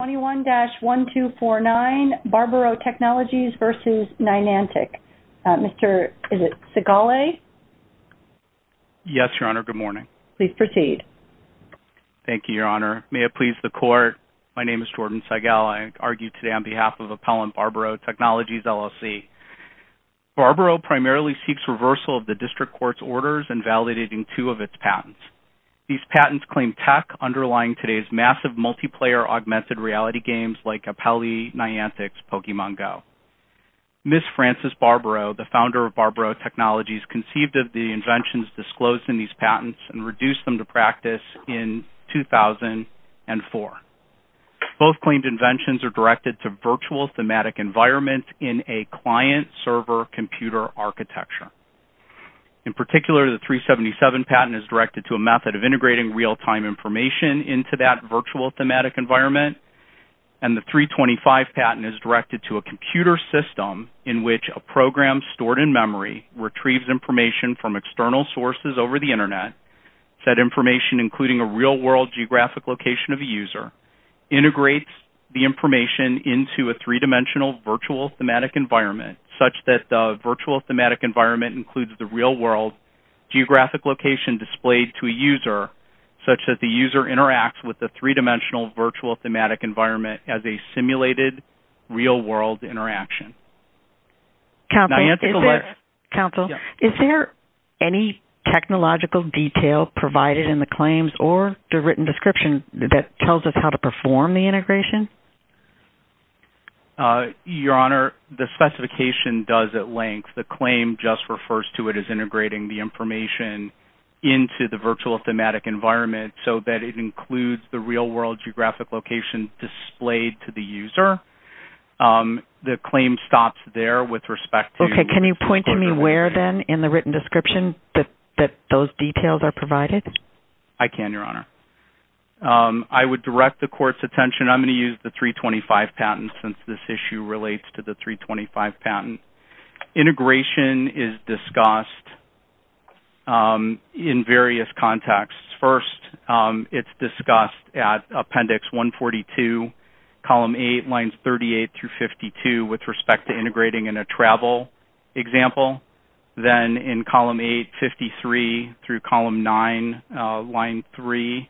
21-1249, Barbaro Technologies v. Niantic. Mr. Sigale? Yes, Your Honor. Good morning. Please proceed. Thank you, Your Honor. May it please the Court, my name is Jordan Sigale. I argue today on behalf of Appellant Barbaro Technologies, LLC. Barbaro primarily seeks reversal of the District Court's orders and validating two of its patents. These patents claim tech underlying today's massive multiplayer augmented reality games like Appellee Niantic's Pokemon Go. Ms. Frances Barbaro, the founder of Barbaro Technologies, conceived of the inventions disclosed in these patents and reduced them to practice in 2004. Both claimed inventions are directed to virtual thematic environments in a client-server computer architecture. In particular, the 377 patent is directed to a method of integrating real-time information into that virtual thematic environment. And the 325 patent is directed to a computer system in which a program stored in memory retrieves information from external sources over the Internet. That information, including a real-world geographic location of a user, integrates the information into a three-dimensional virtual thematic environment, such that the virtual thematic environment includes the real-world geographic location displayed to a user, such that the user interacts with the three-dimensional virtual thematic environment as a simulated real-world interaction. Counsel, is there any technological detail provided in the claims or the written description that tells us how to perform the integration? Your Honor, the specification does at length. The claim just refers to it as integrating the information into the virtual thematic environment, so that it includes the real-world geographic location displayed to the user. The claim stops there with respect to... Okay. Can you point to me where, then, in the written description that those details are provided? I can, Your Honor. I would direct the Court's attention. I'm going to use the 325 patent, since this issue relates to the 325 patent. Integration is discussed in various contexts. First, it's discussed at Appendix 142, Column 8, Lines 38 through 52, with respect to integrating in a travel example. Then, in Column 8, 53 through Column 9, Line 3,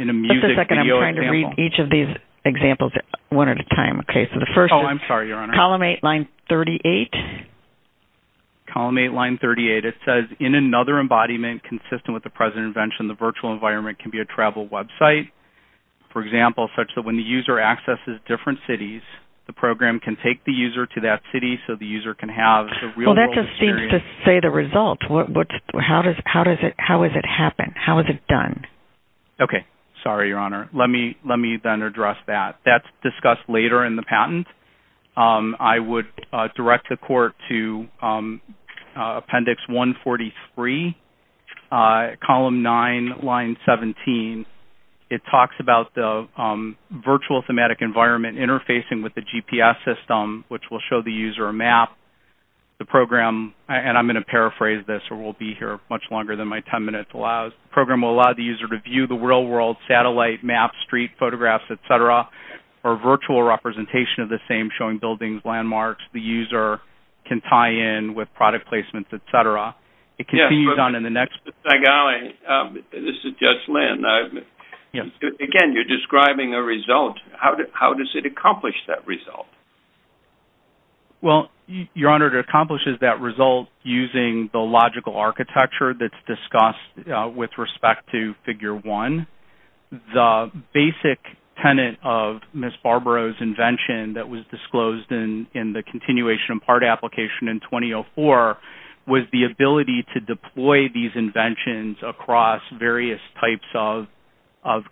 in a music video example. Just a second. I'm trying to read each of these examples one at a time. Oh, I'm sorry, Your Honor. Column 8, Line 38. Column 8, Line 38. It says, In another embodiment consistent with the present invention, the virtual environment can be a travel website, for example, such that when the user accesses different cities, the program can take the user to that city, so the user can have the real-world experience. Well, that just seems to say the result. How is it done? Okay. Sorry, Your Honor. Let me, then, address that. That's discussed later in the patent. I would direct the Court to Appendix 143, Column 9, Line 17. It talks about the virtual thematic environment interfacing with the GPS system, which will show the user a map. The program, and I'm going to paraphrase this, or we'll be here much longer than my 10 minutes allows, the program will allow the user to view the real-world satellite map, street photographs, et cetera, or virtual representation of the same, showing buildings, landmarks. The user can tie in with product placements, et cetera. Mr. Zagali, this is Judge Lynn. Again, you're describing a result. How does it accomplish that result? Well, Your Honor, it accomplishes that result using the logical architecture that's discussed with respect to Figure 1. The basic tenet of Ms. Barbaro's invention that was disclosed in the Continuation in Part application in 2004 was the ability to deploy these inventions across various types of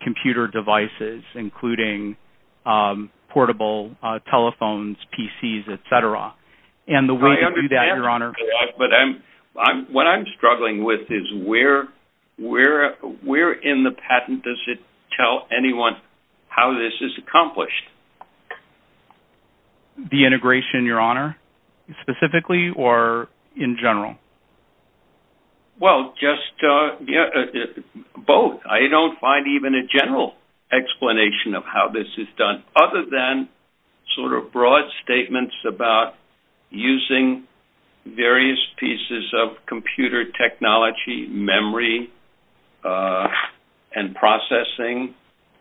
computer devices, including portable telephones, PCs, et cetera. I understand that, but what I'm struggling with is where in the patent does it tell anyone how this is accomplished? The integration, Your Honor, specifically or in general? Well, just both. I don't find even a general explanation of how this is done, other than sort of broad statements about using various pieces of computer technology, memory, and processing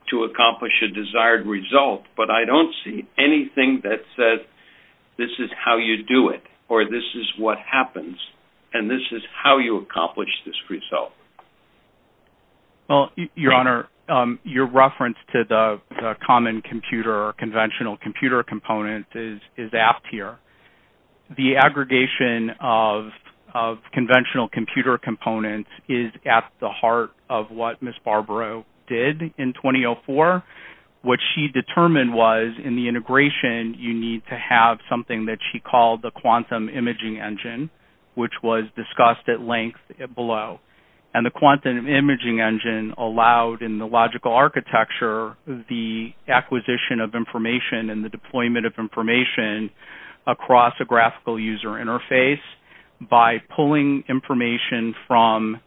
to accomplish a desired result. But I don't see anything that says this is how you do it, or this is what happens, and this is how you accomplish this result. Well, Your Honor, your reference to the common computer or conventional computer component is apt here. The aggregation of conventional computer components is at the heart of what Ms. Barbaro did in 2004, which she determined was in the integration you need to have something that she called the quantum imaging engine, which was discussed at length below. And the quantum imaging engine allowed in the logical architecture the acquisition of information and the deployment of information across a graphical user interface by pulling information from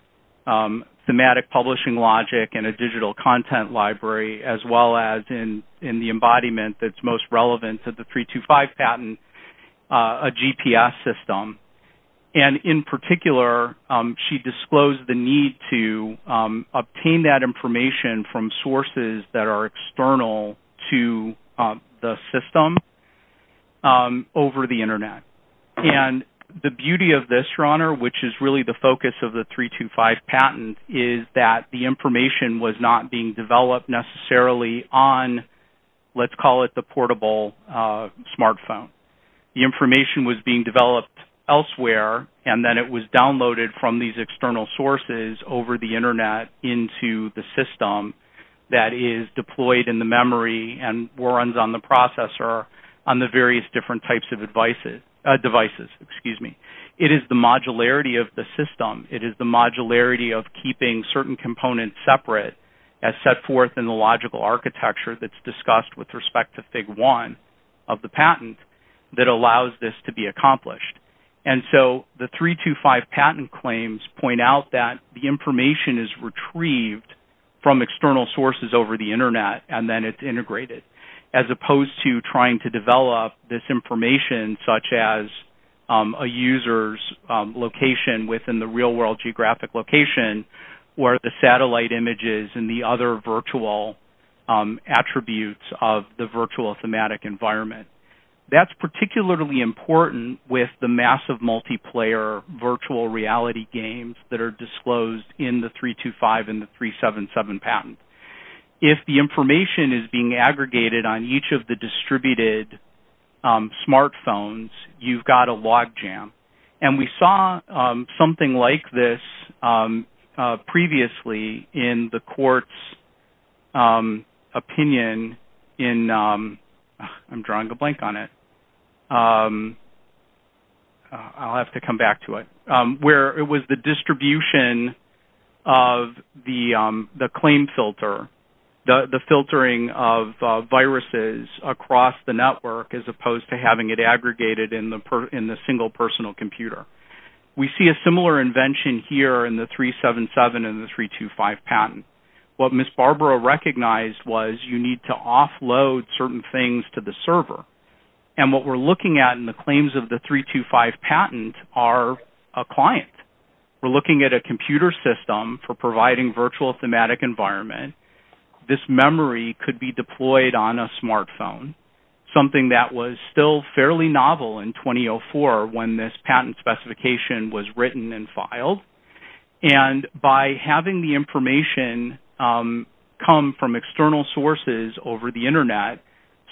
thematic publishing logic and a digital content library, as well as in the embodiment that's most relevant to the 325 patent, a GPS system. And in particular, she disclosed the need to obtain that information from sources that are external to the system over the Internet. And the beauty of this, Your Honor, which is really the focus of the 325 patent, is that the information was not being developed necessarily on, let's call it the portable smartphone. The information was being developed elsewhere, and then it was downloaded from these external sources over the Internet into the system that is deployed in the memory and runs on the processor on the various different types of devices. It is the modularity of the system. It is the modularity of keeping certain components separate as set forth in the logical architecture that's discussed with respect to Fig. 1 of the patent that allows this to be accomplished. And so the 325 patent claims point out that the information is retrieved from external sources over the Internet, and then it's integrated, as opposed to trying to develop this information, such as a user's location within the real-world geographic location or the satellite images and the other virtual attributes of the virtual thematic environment. That's particularly important with the massive multiplayer virtual reality games that are disclosed in the 325 and the 377 patent. If the information is being aggregated on each of the distributed smartphones, you've got a logjam. And we saw something like this previously in the court's opinion in... I'm drawing a blank on it. I'll have to come back to it. Where it was the distribution of the claim filter, the filtering of viruses across the network, as opposed to having it aggregated in the single personal computer. We see a similar invention here in the 377 and the 325 patent. What Ms. Barbara recognized was you need to offload certain things to the server. And what we're looking at in the claims of the 325 patent are a client. We're looking at a computer system for providing virtual thematic environment. This memory could be deployed on a smartphone, something that was still fairly novel in 2004 when this patent specification was written and filed. And by having the information come from external sources over the Internet,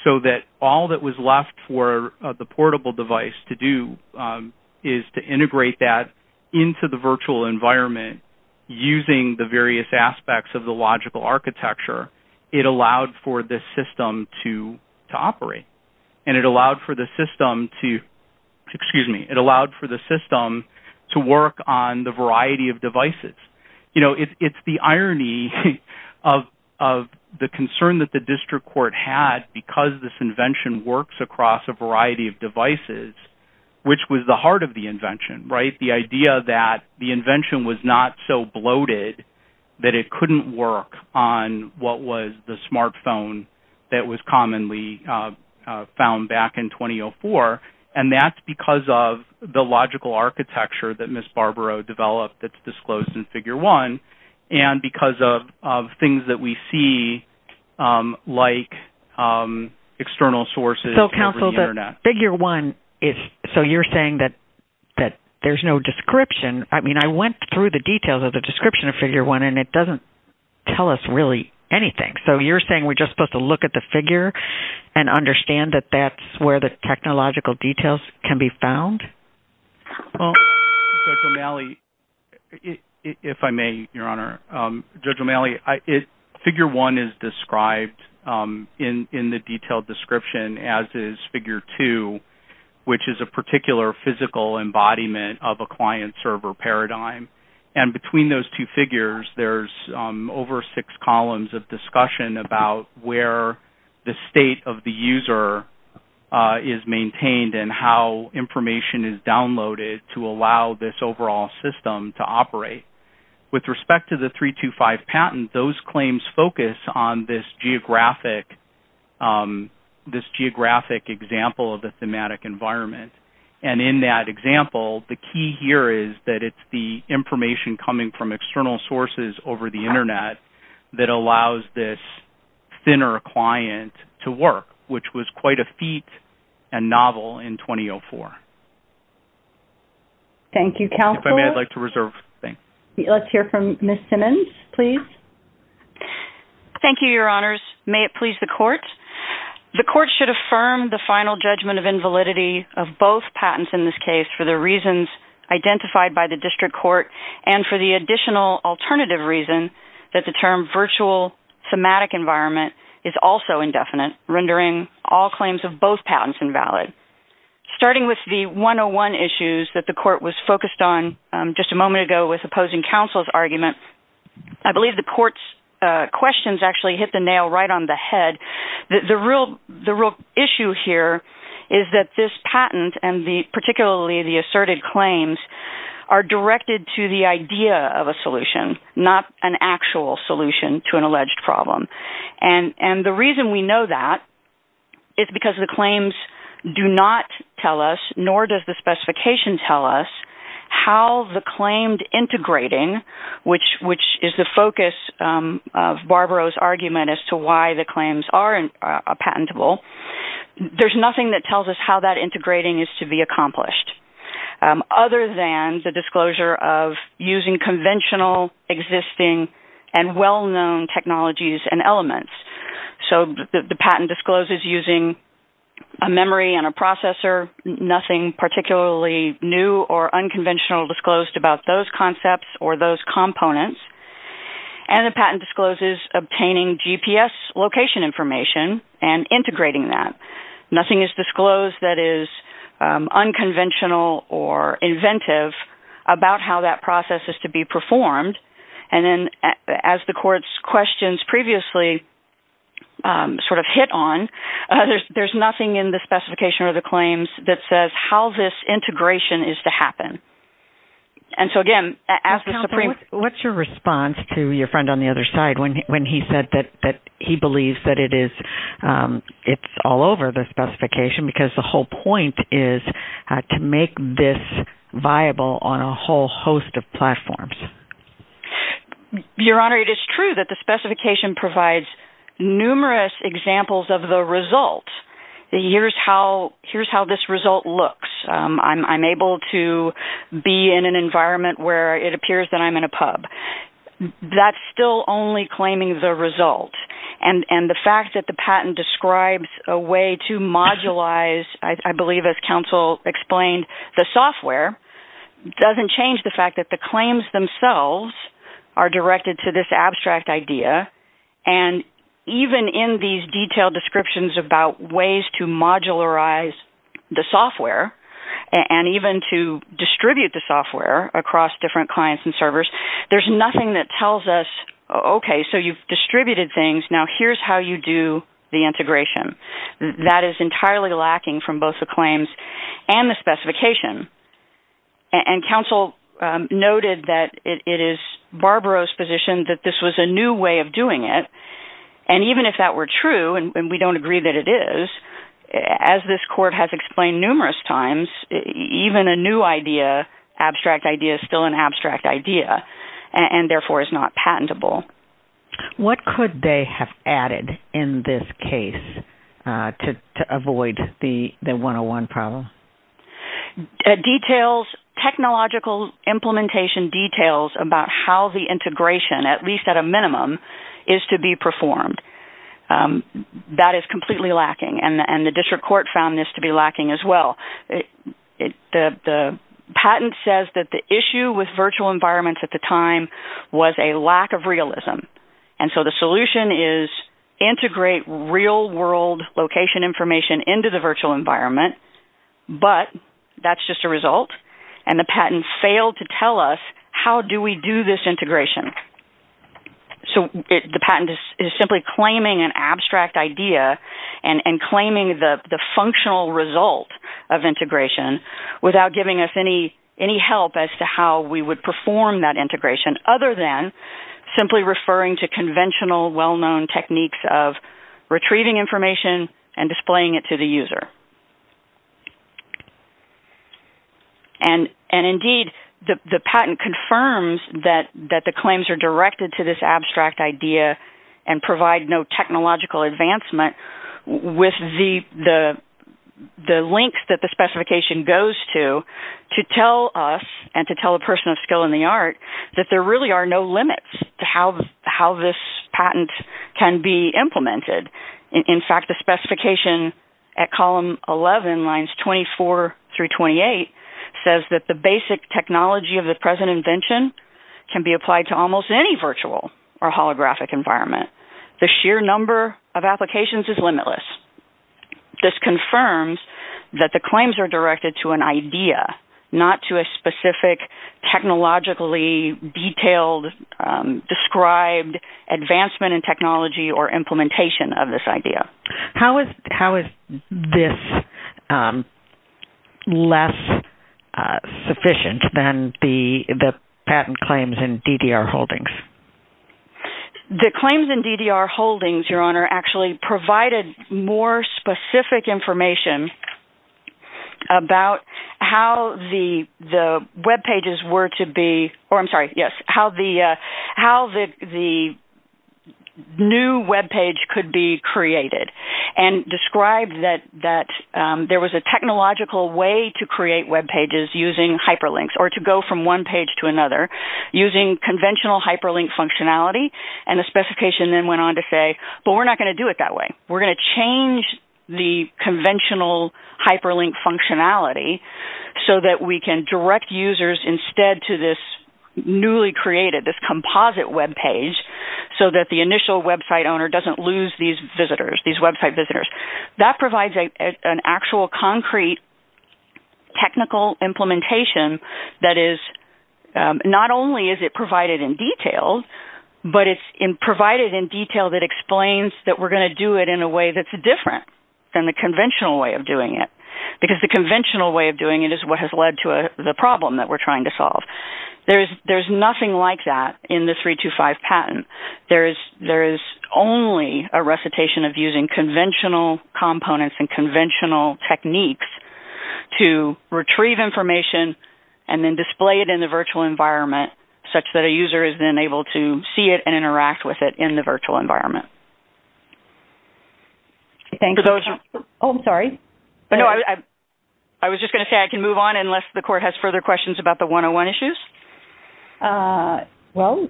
so that all that was left for the portable device to do is to integrate that into the virtual environment using the various aspects of the logical architecture, it allowed for this system to operate. And it allowed for the system to work on the variety of devices. You know, it's the irony of the concern that the district court had because this invention works across a variety of devices, which was the heart of the invention. The idea that the invention was not so bloated that it couldn't work on what was the smartphone that was commonly found back in 2004. And that's because of the logical architecture that Ms. Barbara developed that's disclosed in Figure 1 and because of things that we see like external sources over the Internet. Figure 1, so you're saying that there's no description. I mean, I went through the details of the description of Figure 1 and it doesn't tell us really anything. So you're saying we're just supposed to look at the figure and understand that that's where the technological details can be found? Well, Judge O'Malley, if I may, Your Honor. Judge O'Malley, Figure 1 is described in the detailed description as is Figure 2, which is a particular physical embodiment of a client-server paradigm. And between those two figures, there's over six columns of discussion about where the state of the user is maintained and how information is downloaded to allow this overall system to operate. With respect to the 325 patent, those claims focus on this geographic example of the thematic environment. And in that example, the key here is that it's the information coming from external sources over the Internet that allows this thinner client to work, which was quite a feat and novel in 2004. Thank you, counsel. If I may, I'd like to reserve things. Let's hear from Ms. Simmons, please. Thank you, Your Honors. May it please the Court. The Court should affirm the final judgment of invalidity of both patents in this case for the reasons identified by the District Court and for the additional alternative reason that the term virtual thematic environment is also indefinite, rendering all claims of both patents invalid. Starting with the 101 issues that the Court was focused on just a moment ago with opposing counsel's argument, I believe the Court's questions actually hit the nail right on the head. The real issue here is that this patent, and particularly the asserted claims, are directed to the idea of a solution, not an actual solution to an alleged problem. The reason we know that is because the claims do not tell us, nor does the specification tell us, how the claimed integrating, which is the focus of Barbaro's argument as to why the claims are patentable, there's nothing that tells us how that integrating is to be accomplished other than the disclosure of using conventional, existing, and well-known technologies and elements. So the patent discloses using a memory and a processor, nothing particularly new or unconventional disclosed about those concepts or those components, and the patent discloses obtaining GPS location information and integrating that. Nothing is disclosed that is unconventional or inventive about how that process is to be performed. And then as the Court's questions previously sort of hit on, there's nothing in the specification or the claims that says how this integration is to happen. What's your response to your friend on the other side when he said that he believes that it's all over the specification because the whole point is to make this viable on a whole host of platforms? Your Honor, it is true that the specification provides numerous examples of the result. Here's how this result looks. I'm able to be in an environment where it appears that I'm in a pub. That's still only claiming the result. And the fact that the patent describes a way to modulize, I believe as counsel explained, the software, doesn't change the fact that the claims themselves are directed to this abstract idea. And even in these detailed descriptions about ways to modularize the software and even to distribute the software across different clients and servers, there's nothing that tells us, okay, so you've distributed things. Now here's how you do the integration. That is entirely lacking from both the claims and the specification. And counsel noted that it is Barbaro's position that this was a new way of doing it. And even if that were true, and we don't agree that it is, as this court has explained numerous times, even a new idea, abstract idea, is still an abstract idea and therefore is not patentable. What could they have added in this case to avoid the 101 problem? Details, technological implementation details about how the integration, at least at a minimum, is to be performed. That is completely lacking. And the district court found this to be lacking as well. The patent says that the issue with virtual environments at the time was a lack of realism. And so the solution is integrate real-world location information into the virtual environment, but that's just a result. And the patent failed to tell us how do we do this integration. So the patent is simply claiming an abstract idea and claiming the functional result of integration without giving us any help as to how we would perform that integration, other than simply referring to conventional well-known techniques of retrieving information and displaying it to the user. And indeed, the patent confirms that the claims are directed to this abstract idea and provide no technological advancement with the links that the specification goes to to tell us and to tell a person of skill in the art that there really are no limits to how this patent can be implemented. In fact, the specification at column 11, lines 24 through 28, says that the basic technology of the present invention can be applied to almost any virtual or holographic environment. The sheer number of applications is limitless. This confirms that the claims are directed to an idea, not to a specific technologically detailed described advancement in technology or implementation of this idea. How is this less sufficient than the patent claims in DDR holdings? The claims in DDR holdings, Your Honor, actually provided more specific information about how the new webpage could be created and described that there was a technological way to create webpages using hyperlinks or to go from one page to another using conventional hyperlink functionality. And the specification then went on to say, but we're not going to do it that way. We're going to change the conventional hyperlink functionality so that we can direct users instead to this newly created, this composite webpage, so that the initial website owner doesn't lose these website visitors. That provides an actual concrete technical implementation that is not only is it provided in detail, but it's provided in detail that explains that we're going to do it in a way that's different than the conventional way of doing it. Because the conventional way of doing it is what has led to the problem that we're trying to solve. There's nothing like that in the 325 patent. There is only a recitation of using conventional components and conventional techniques to retrieve information and then display it in the virtual environment, such that a user is then able to see it and interact with it in the virtual environment. I was just going to say I can move on unless the court has further questions about the 101 issues. Well,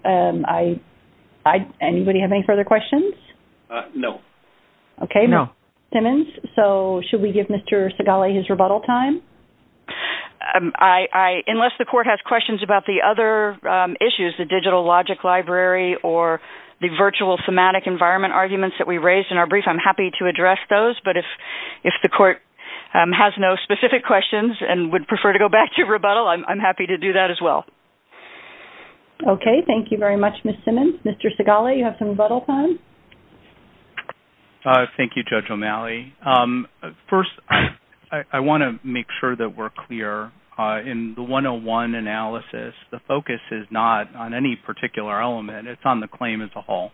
anybody have any further questions? No. Okay, Mr. Simmons, so should we give Mr. Segale his rebuttal time? Unless the court has questions about the other issues, the digital logic library or the virtual thematic environment arguments that we raised in our brief, I'm happy to address those. But if the court has no specific questions and would prefer to go back to rebuttal, I'm happy to do that as well. Okay, thank you very much, Ms. Simmons. Mr. Segale, you have some rebuttal time? Thank you, Judge O'Malley. First, I want to make sure that we're clear. In the 101 analysis, the focus is not on any particular element. It's on the claim as a whole,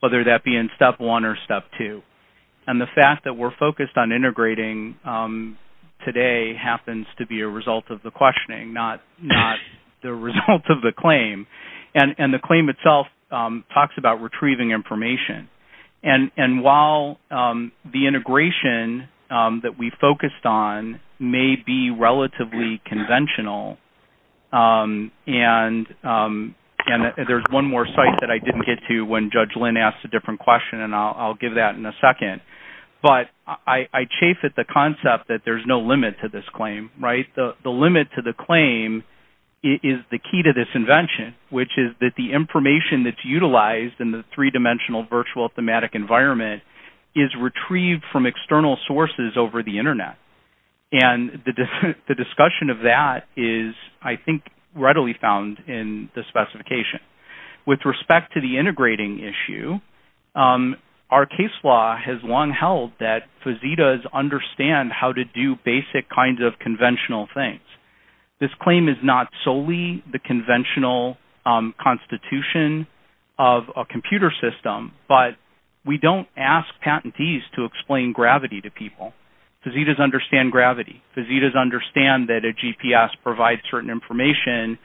whether that be in Step 1 or Step 2. And the fact that we're focused on integrating today happens to be a result of the questioning, not the result of the claim. And the claim itself talks about retrieving information. And while the integration that we focused on may be relatively conventional, and there's one more site that I didn't get to when Judge Lynn asked a different question, and I'll give that in a second, but I chafe at the concept that there's no limit to this claim, right? The limit to the claim is the key to this invention, which is that the information that's utilized in the three-dimensional virtual thematic environment is retrieved from external sources over the Internet. And the discussion of that is, I think, readily found in the specification. With respect to the integrating issue, our case law has long held that fazitas understand how to do basic kinds of conventional things. This claim is not solely the conventional constitution of a computer system, but we don't ask patentees to explain gravity to people. Fazitas understand gravity. Fazitas understand that a GPS provides certain information,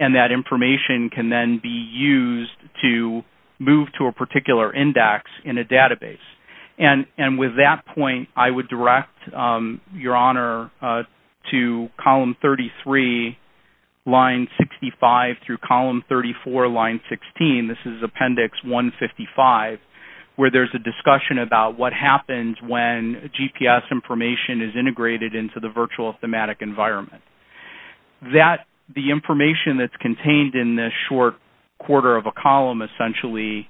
and that information can then be used to move to a particular index in a database. And with that point, I would direct Your Honor to column 33, line 65, through column 34, line 16. This is appendix 155, where there's a discussion about what happens when GPS information is integrated into the virtual thematic environment. The information that's contained in this short quarter of a column essentially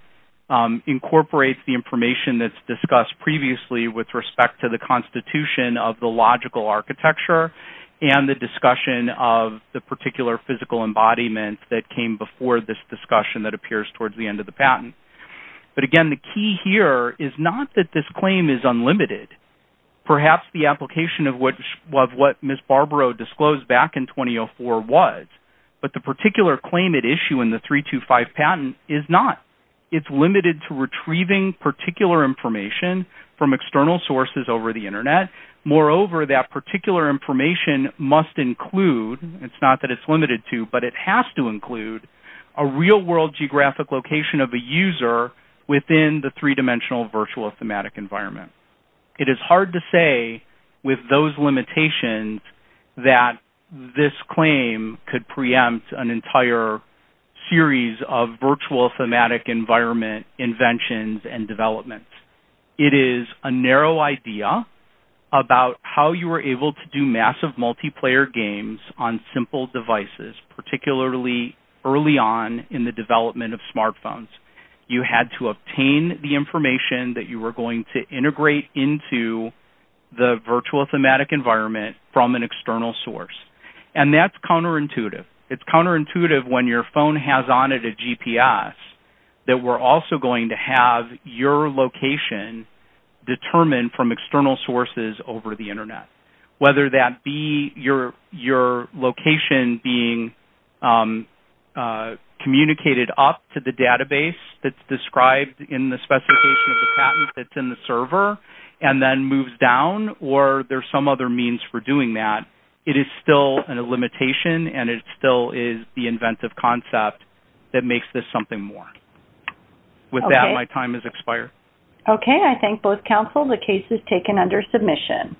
incorporates the information that's discussed previously with respect to the constitution of the logical architecture and the discussion of the particular physical embodiment that came before this discussion that appears towards the end of the patent. But again, the key here is not that this claim is unlimited. Perhaps the application of what Ms. Barbaro disclosed back in 2004 was, but the particular claim at issue in the 325 patent is not. It's limited to retrieving particular information from external sources over the Internet. Moreover, that particular information must include, it's not that it's limited to, but it has to include a real-world geographic location of a user within the three-dimensional virtual thematic environment. It is hard to say with those limitations that this claim could preempt an entire series of virtual thematic environment inventions and developments. It is a narrow idea about how you were able to do massive multiplayer games on simple devices, particularly early on in the development of smartphones. You had to obtain the information that you were going to integrate into the virtual thematic environment from an external source. And that's counterintuitive. It's counterintuitive when your phone has on it a GPS that we're also going to have your location determined from external sources over the Internet. Whether that be your location being communicated up to the database that's described in the specification of the patent that's in the server and then moves down, or there's some other means for doing that, it is still a limitation and it still is the inventive concept that makes this something more. With that, my time has expired. Okay, I thank both counsel. The case is taken under submission.